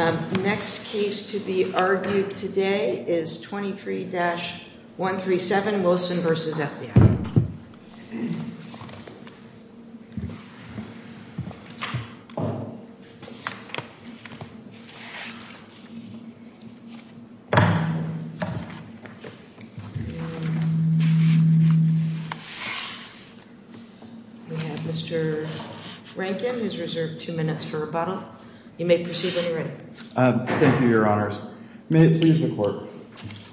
The next case to be argued today is 23-137 Wilson v. FBI. We have Mr. Rankin, who's reserved two minutes for rebuttal. You may proceed when you're ready. Thank you, Your Honors. May it please the Court,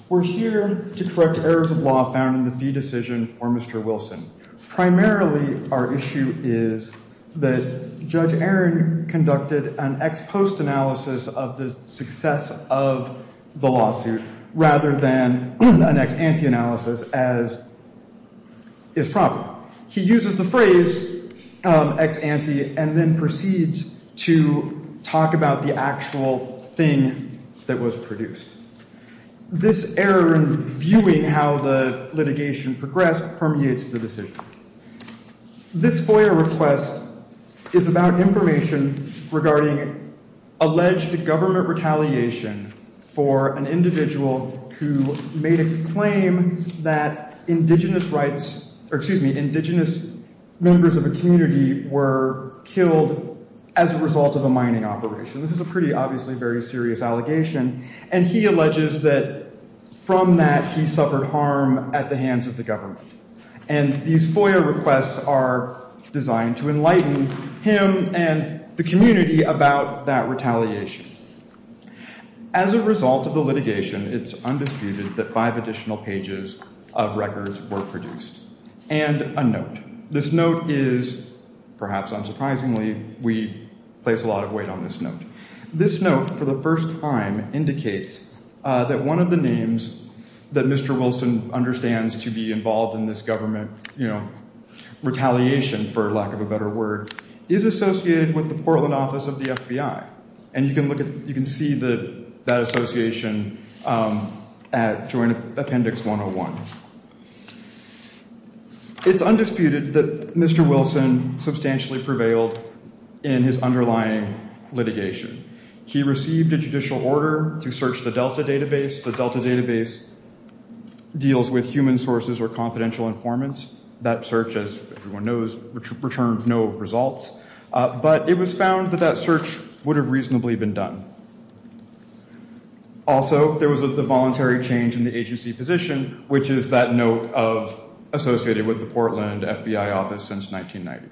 we're here to correct errors of law found in the fee decision for Mr. Wilson. Primarily, our issue is that Judge Aaron conducted an ex post analysis of the success of the lawsuit rather than an ex ante analysis as is proper. He uses the phrase ex ante and then proceeds to talk about the actual thing that was produced. This error in viewing how the litigation progressed permeates the decision. This FOIA request is about information regarding alleged government retaliation for an individual who made a claim that indigenous rights or, excuse me, indigenous members of a community were killed as a result of a mining operation. This is a pretty obviously very serious allegation, and he alleges that from that he suffered harm at the hands of the government. And these FOIA requests are designed to enlighten him and the community about that retaliation. As a result of the litigation, it's undisputed that five additional pages of records were produced and a note. This note is, perhaps unsurprisingly, we place a lot of weight on this note. This note, for the first time, indicates that one of the names that Mr. Wilson understands to be involved in this government, you know, retaliation, for lack of a better word, is associated with the Portland office of the FBI. And you can look at, you can see that association at Joint Appendix 101. It's undisputed that Mr. Wilson substantially prevailed in his underlying litigation. He received a judicial order to search the Delta database. The Delta database deals with human sources or confidential informants. That search, as everyone knows, returned no results. But it was found that that search would have reasonably been done. Also, there was the voluntary change in the agency position, which is that note of associated with the Portland FBI office since 1990.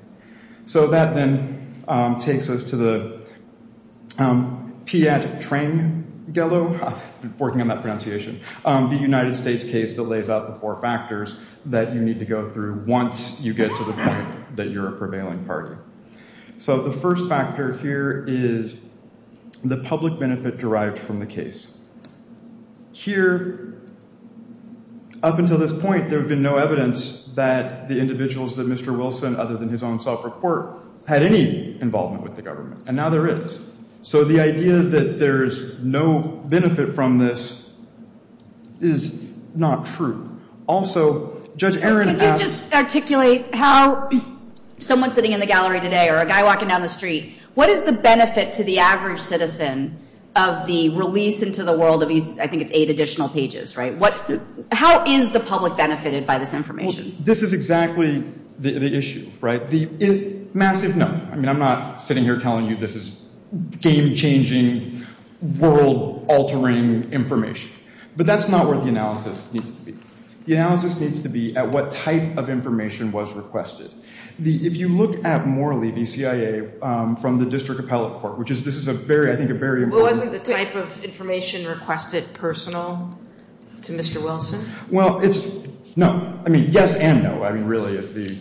So that then takes us to the Piat-Trangelo, I've been working on that pronunciation, the United States case that lays out the four factors that you need to go through once you get to the point that you're a prevailing party. So the first factor here is the public benefit derived from the case. Here, up until this point, there had been no evidence that the individuals that Mr. Wilson, other than his own self-report, had any involvement with the government. And now there is. So the idea that there's no benefit from this is not true. Also, Judge Aaron asked- Well, this is exactly the issue, right? The massive, no, I mean, I'm not sitting here telling you this is game-changing, world-altering information. But that's not where the analysis needs to be. The analysis needs to be at what type of information was requested. If you look at Morley v. CIA from the District Appellate Court, which is, this is a very, I think, a very- Well, wasn't the type of information requested personal to Mr. Wilson? Well, it's, no, I mean, yes and no, I mean, really is the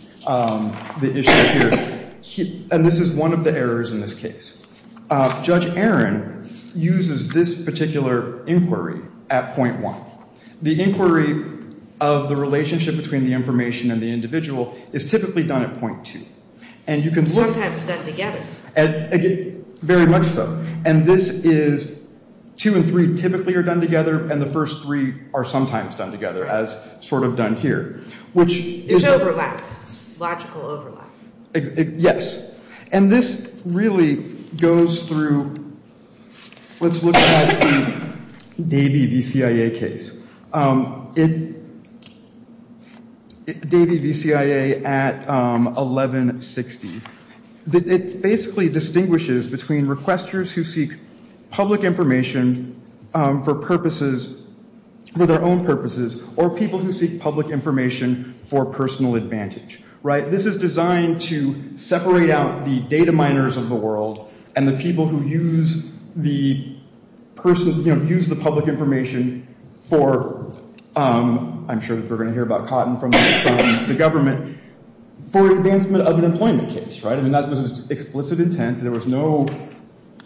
issue here. And this is one of the errors in this case. Judge Aaron uses this particular inquiry at point one. The inquiry of the relationship between the information and the individual is typically done at point two. And you can- Sometimes done together. Very much so. And this is, two and three typically are done together, and the first three are sometimes done together, as sort of done here. Which- It's overlap. It's logical overlap. Yes. And this really goes through, let's look at the Davey v. CIA case. Davey v. CIA at 1160. It basically distinguishes between requesters who seek public information for purposes, for their own purposes, or people who seek public information for personal advantage. Right? This is designed to separate out the data miners of the world and the people who use the person, you know, use the public information for, I'm sure that we're going to hear about Cotton from the government, for advancement of an employment case. Right? I mean, that was explicit intent. There was no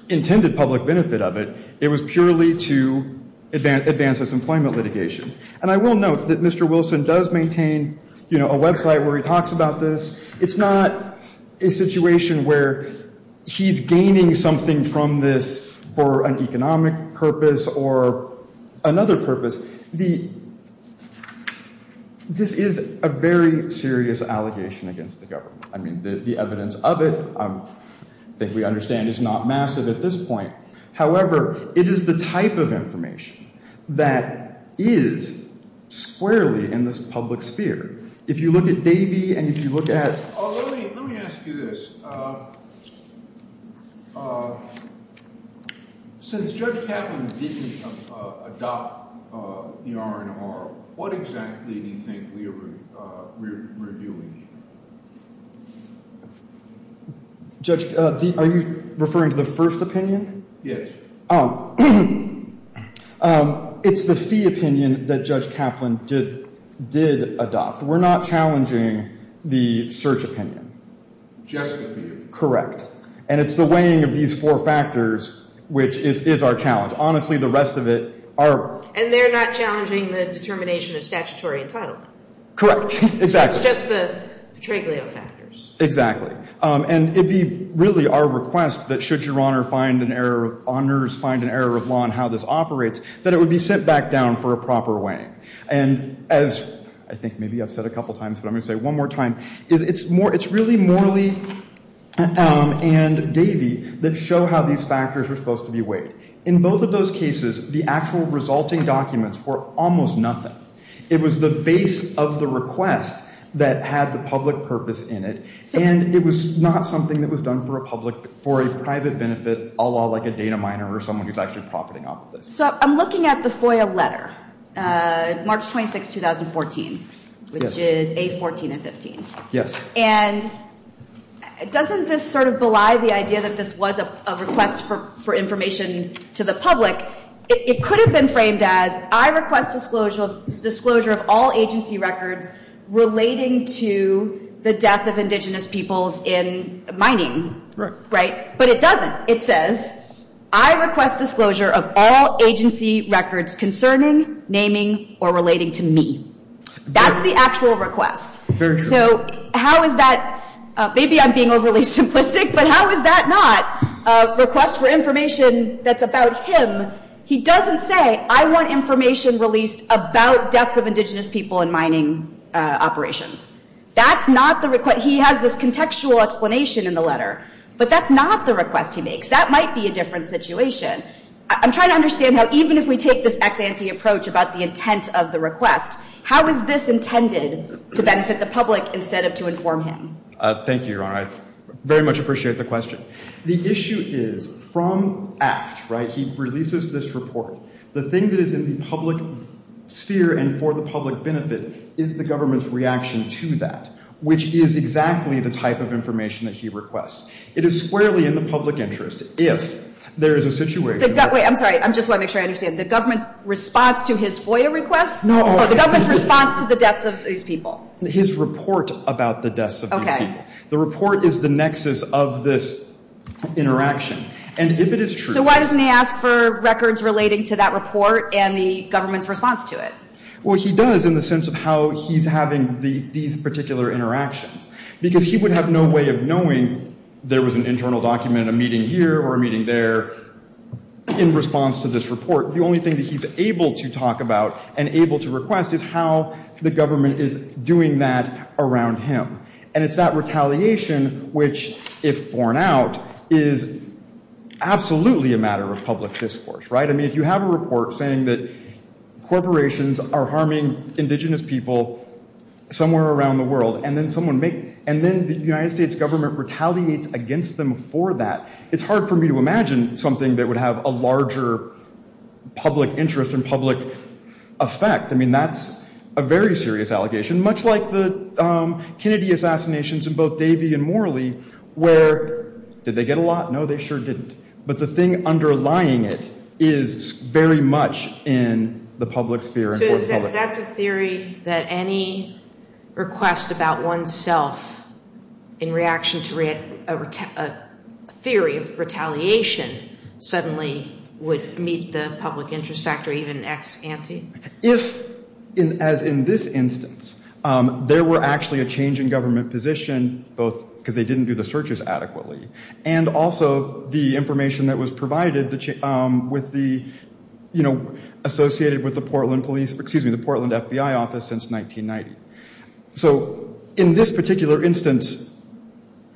intended public benefit of it. It was purely to advance its employment litigation. And I will note that Mr. Wilson does maintain, you know, a website where he talks about this. It's not a situation where he's gaining something from this for an economic purpose or another purpose. The- this is a very serious allegation against the government. I mean, the evidence of it, I think we understand, is not massive at this point. However, it is the type of information that is squarely in this public sphere. If you look at Davey and if you look at- Let me ask you this. Since Judge Kaplan didn't adopt the R&R, what exactly do you think we're doing? Judge, are you referring to the first opinion? Yes. It's the fee opinion that Judge Kaplan did- did adopt. We're not challenging the search opinion. Just the fee. Correct. And it's the weighing of these four factors which is- is our challenge. Honestly, the rest of it are- And they're not challenging the determination of statutory entitlement. Correct. Exactly. It's just the Treglio factors. Exactly. And it'd be really our request that should Your Honor find an error- honors find an error of law in how this operates, that it would be set back down for a proper weighing. And as I think maybe I've said a couple times, but I'm going to say it one more time, is it's more- it's really Morley and Davey that show how these factors are supposed to be weighed. In both of those cases, the actual resulting documents were almost nothing. It was the base of the request that had the public purpose in it. And it was not something that was done for a public- for a private benefit, a lot like a data miner or someone who's actually profiting off of this. So I'm looking at the FOIA letter, March 26, 2014, which is 8, 14, and 15. Yes. And doesn't this sort of belie the idea that this was a request for information to the public? It could have been framed as, I request disclosure of all agency records relating to the death of indigenous peoples in mining. Right. Right. But it doesn't. It says, I request disclosure of all agency records concerning, naming, or relating to me. That's the actual request. Very true. So how is that- maybe I'm being overly simplistic, but how is that not a request for information that's about him? He doesn't say, I want information released about deaths of indigenous people in mining operations. That's not the request. He has this contextual explanation in the letter. But that's not the request he makes. That might be a different situation. I'm trying to understand how, even if we take this ex-ante approach about the intent of the request, how is this intended to benefit the public instead of to inform him? Thank you, Your Honor. I very much appreciate the question. The issue is, from ACT, right, he releases this report. The thing that is in the public sphere and for the public benefit is the government's reaction to that, which is exactly the type of information that he requests. It is squarely in the public interest if there is a situation- Wait, I'm sorry. I just want to make sure I understand. The government's response to his FOIA request? No. Or the government's response to the deaths of these people? His report about the deaths of these people. The report is the nexus of this interaction. And if it is true- So why doesn't he ask for records relating to that report and the government's response to it? Well, he does in the sense of how he's having these particular interactions. Because he would have no way of knowing there was an internal document, a meeting here or a meeting there, in response to this report. The only thing that he's able to talk about and able to request is how the government is doing that around him. And it's that retaliation which, if borne out, is absolutely a matter of public discourse, right? I mean, if you have a report saying that corporations are harming indigenous people somewhere around the world and then the United States government retaliates against them for that, it's hard for me to imagine something that would have a larger public interest and public effect. I mean, that's a very serious allegation. And much like the Kennedy assassinations in both Davy and Morley, where did they get a lot? No, they sure didn't. But the thing underlying it is very much in the public sphere and for the public. So that's a theory that any request about oneself in reaction to a theory of retaliation suddenly would meet the public interest factor, even ex ante? If, as in this instance, there were actually a change in government position, both because they didn't do the searches adequately, and also the information that was provided associated with the Portland FBI office since 1990. So in this particular instance,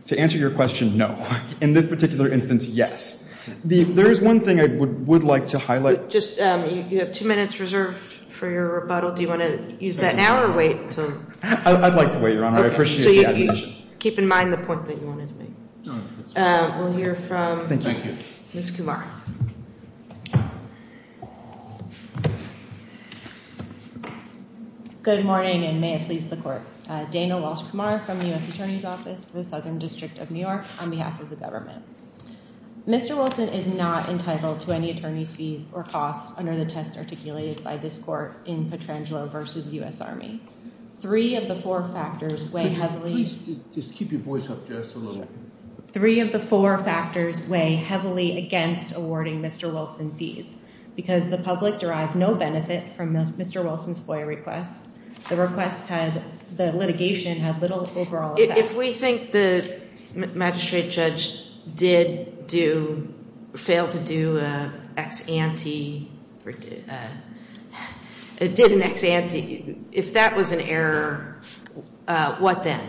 to answer your question, no. In this particular instance, yes. There is one thing I would like to highlight. So just, you have two minutes reserved for your rebuttal. Do you want to use that now or wait until? I'd like to wait, Your Honor. I appreciate the admonition. Keep in mind the point that you wanted to make. We'll hear from- Thank you. Ms. Kovar. Good morning and may it please the court. Dana Walsh-Kamar from the US Attorney's Office for the Southern District of New York on behalf of the government. Mr. Wilson is not entitled to any attorney's fees or costs under the test articulated by this court in Petrangelo v. US Army. Three of the four factors weigh heavily- Could you please just keep your voice up just a little? Three of the four factors weigh heavily against awarding Mr. Wilson fees because the public derived no benefit from Mr. Wilson's FOIA request. The request had, the litigation had little overall effect. If we think the magistrate judge did do, failed to do an ex ante, did an ex ante, if that was an error, what then?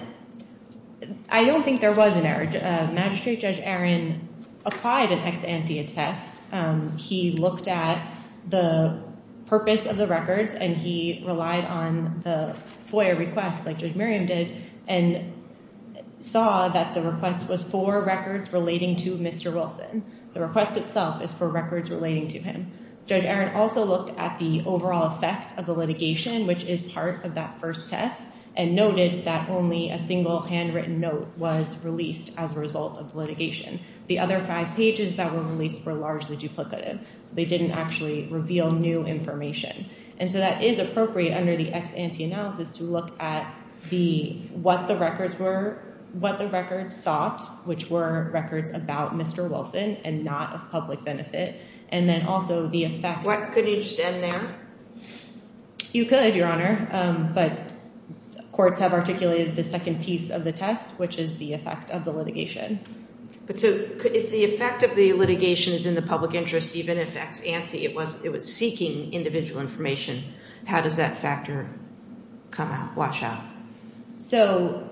I don't think there was an error. Magistrate Judge Aaron applied an ex ante attest. He looked at the purpose of the records and he relied on the FOIA request like Judge Miriam did. And saw that the request was for records relating to Mr. Wilson. The request itself is for records relating to him. Judge Aaron also looked at the overall effect of the litigation, which is part of that first test, and noted that only a single handwritten note was released as a result of the litigation. The other five pages that were released were largely duplicative. So they didn't actually reveal new information. And so that is appropriate under the ex ante analysis to look at the, what the records were, what the records sought, which were records about Mr. Wilson and not of public benefit. And then also the effect. What, couldn't you just end there? You could, Your Honor. But courts have articulated the second piece of the test, which is the effect of the litigation. But so if the effect of the litigation is in the public interest, even if ex ante, it was seeking individual information, how does that factor come out, wash out? So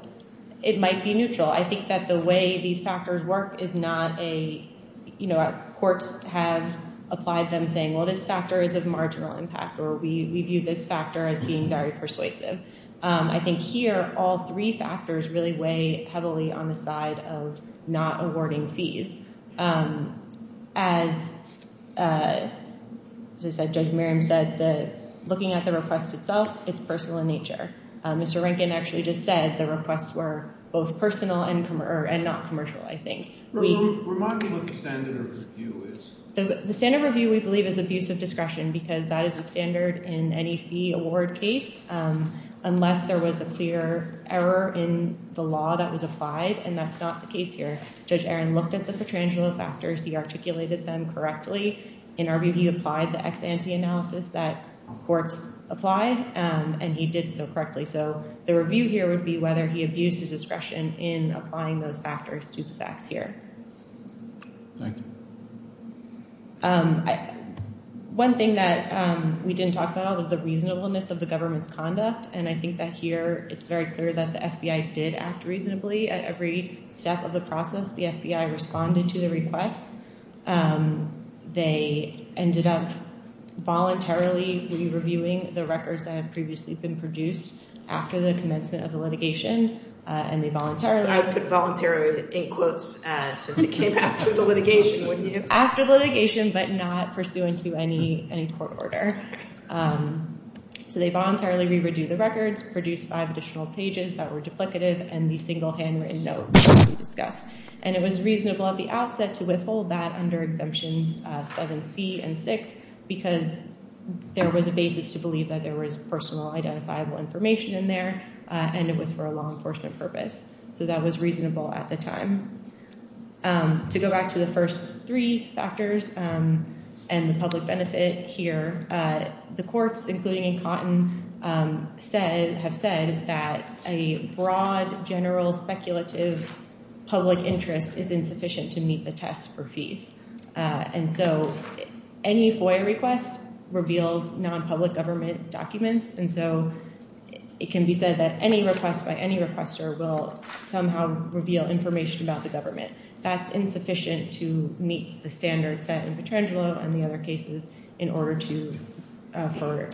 it might be neutral. I think that the way these factors work is not a, you know, courts have applied them saying, well, this factor is of marginal impact or we view this factor as being very persuasive. I think here, all three factors really weigh heavily on the side of not awarding fees. As Judge Merriam said, looking at the request itself, it's personal in nature. Mr. Rankin actually just said the requests were both personal and not commercial, I think. Remind me what the standard of review is. The standard of review, we believe, is abuse of discretion because that is the standard in any fee award case unless there was a clear error in the law that was applied, and that's not the case here. Judge Aaron looked at the patronage of the factors. He articulated them correctly. In our review, he applied the ex ante analysis that courts apply, and he did so correctly. So the review here would be whether he abused his discretion in applying those factors to the facts here. Thank you. One thing that we didn't talk about was the reasonableness of the government's conduct, and I think that here it's very clear that the FBI did act reasonably at every step of the process, the FBI responded to the request. They ended up voluntarily re-reviewing the records that had previously been produced after the commencement of the litigation, and they voluntarily. I put voluntarily in quotes since it came after the litigation, wouldn't you? After the litigation, but not pursuant to any court order. So they voluntarily re-reviewed the records, produced five additional pages that were duplicative, and the single handwritten note that we discussed, and it was reasonable at the outset to withhold that under exemptions 7C and 6 because there was a basis to believe that there was personal identifiable information in there, and it was for a law enforcement purpose. So that was reasonable at the time. To go back to the first three factors and the public benefit here, the courts, including in Cotton, have said that a broad, general, speculative public interest is insufficient to meet the test for fees. And so any FOIA request reveals non-public government documents, and so it can be said that any request by any requester will somehow reveal information about the government. That's insufficient to meet the standards set in Petrangelo and the other cases in order to for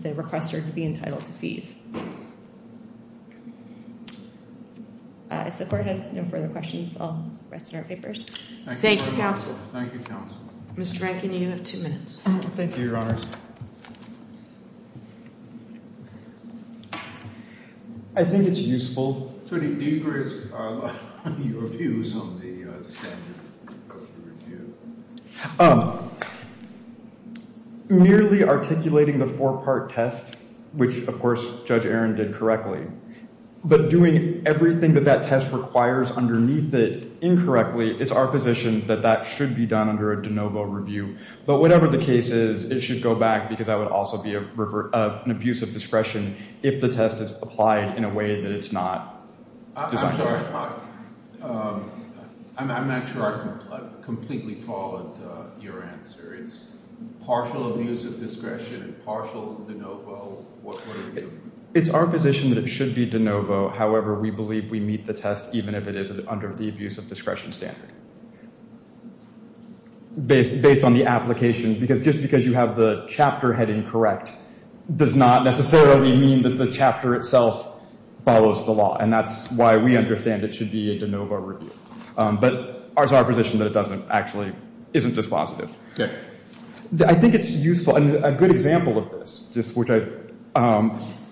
the requester to be entitled to fees. If the court has no further questions, I'll rest in our papers. Thank you, counsel. Thank you, counsel. Mr. Rankin, you have two minutes. Thank you, your honors. I think it's useful. So do you risk your views on the standard of the review? Nearly articulating the four-part test, which of course Judge Aaron did correctly, but doing everything that that test requires underneath it incorrectly, it's our position that that should be done under a de novo review. But whatever the case is, it should go back because that would also be an abuse of discretion if the test is applied in a way that it's not. I'm sorry, I'm not sure I completely followed your answer. It's partial abuse of discretion and partial de novo. What would it be? It's our position that it should be de novo. However, we believe we meet the test even if it is under the abuse of discretion standard. Based on the application, because just because you have the chapter heading correct does not necessarily mean that the chapter itself follows the law. And that's why we understand it should be a de novo review. But it's our position that it doesn't actually, isn't dispositive. I think it's useful, and a good example of this, just which I,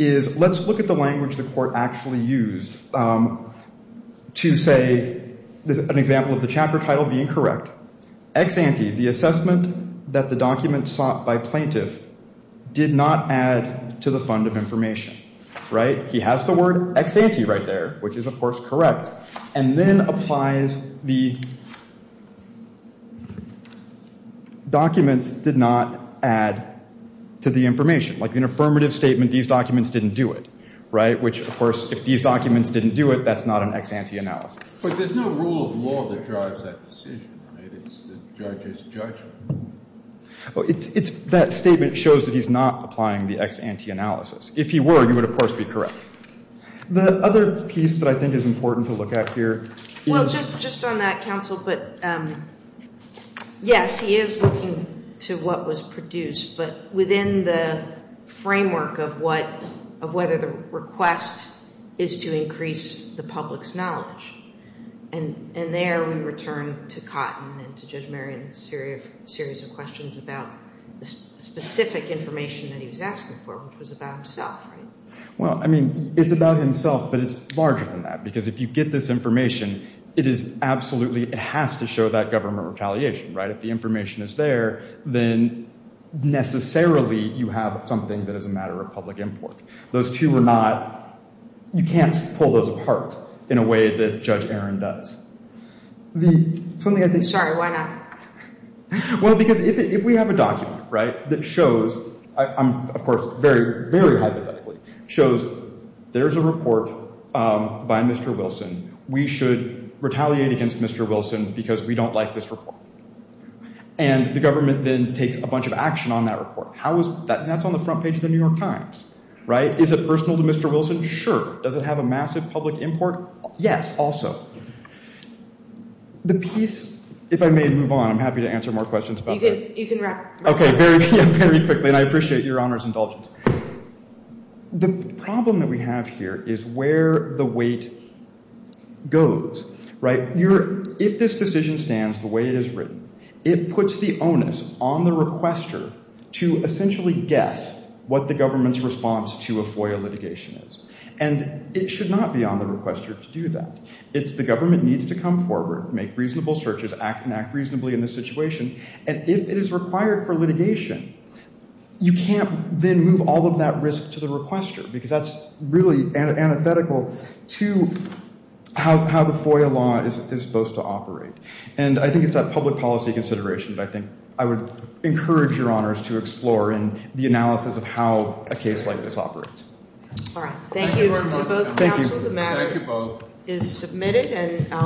is let's look at the language the court actually used to say, an example of the chapter title being correct. Ex ante, the assessment that the document sought by plaintiff did not add to the fund of information. Right? He has the word ex ante right there, which is, of course, correct. And then applies the documents did not add to the information. Like an affirmative statement, these documents didn't do it. Right? Which, of course, if these documents didn't do it, that's not an ex ante analysis. But there's no rule of law that drives that decision, right? It's the judge's judgment. It's that statement shows that he's not applying the ex ante analysis. If he were, he would, of course, be correct. The other piece that I think is important to look at here is. Well, just on that, counsel, but yes, he is looking to what was produced. But within the framework of what, of whether the request is to increase the public's knowledge. And there we return to Cotton and to Judge Marion's series of questions about the specific information that he was asking for, which was about himself. Well, I mean, it's about himself, but it's larger than that. Because if you get this information, it is absolutely, it has to show that government retaliation. Right? If the information is there, then necessarily you have something that is a matter of public import. Those two are not, you can't pull those apart in a way that Judge Aaron does. The, something I think. Sorry, why not? Well, because if we have a document, right, that shows, of course, very, very hypothetically, shows there's a report by Mr. Wilson. We should retaliate against Mr. Wilson because we don't like this report. And the government then takes a bunch of action on that report. How is, that's on the front page of the New York Times. Right? Is it personal to Mr. Wilson? Sure. Does it have a massive public import? Yes, also. The piece, if I may move on, I'm happy to answer more questions about that. You can wrap. Okay, very quickly, and I appreciate your honor's indulgence. The problem that we have here is where the weight goes. Right? You're, if this decision stands the way it is written, it puts the onus on the requester to essentially guess what the government's response to a FOIA litigation is. And it should not be on the requester to do that. It's the government needs to come forward, make reasonable searches, act and act reasonably in this situation. And if it is required for litigation, you can't then move all of that risk to the requester because that's really antithetical to how the FOIA law is supposed to operate. And I think it's that public policy consideration that I think I would encourage your honors to explore in the analysis of how a case like this operates. All right. Thank you to both counsel. The matter is submitted and I'll.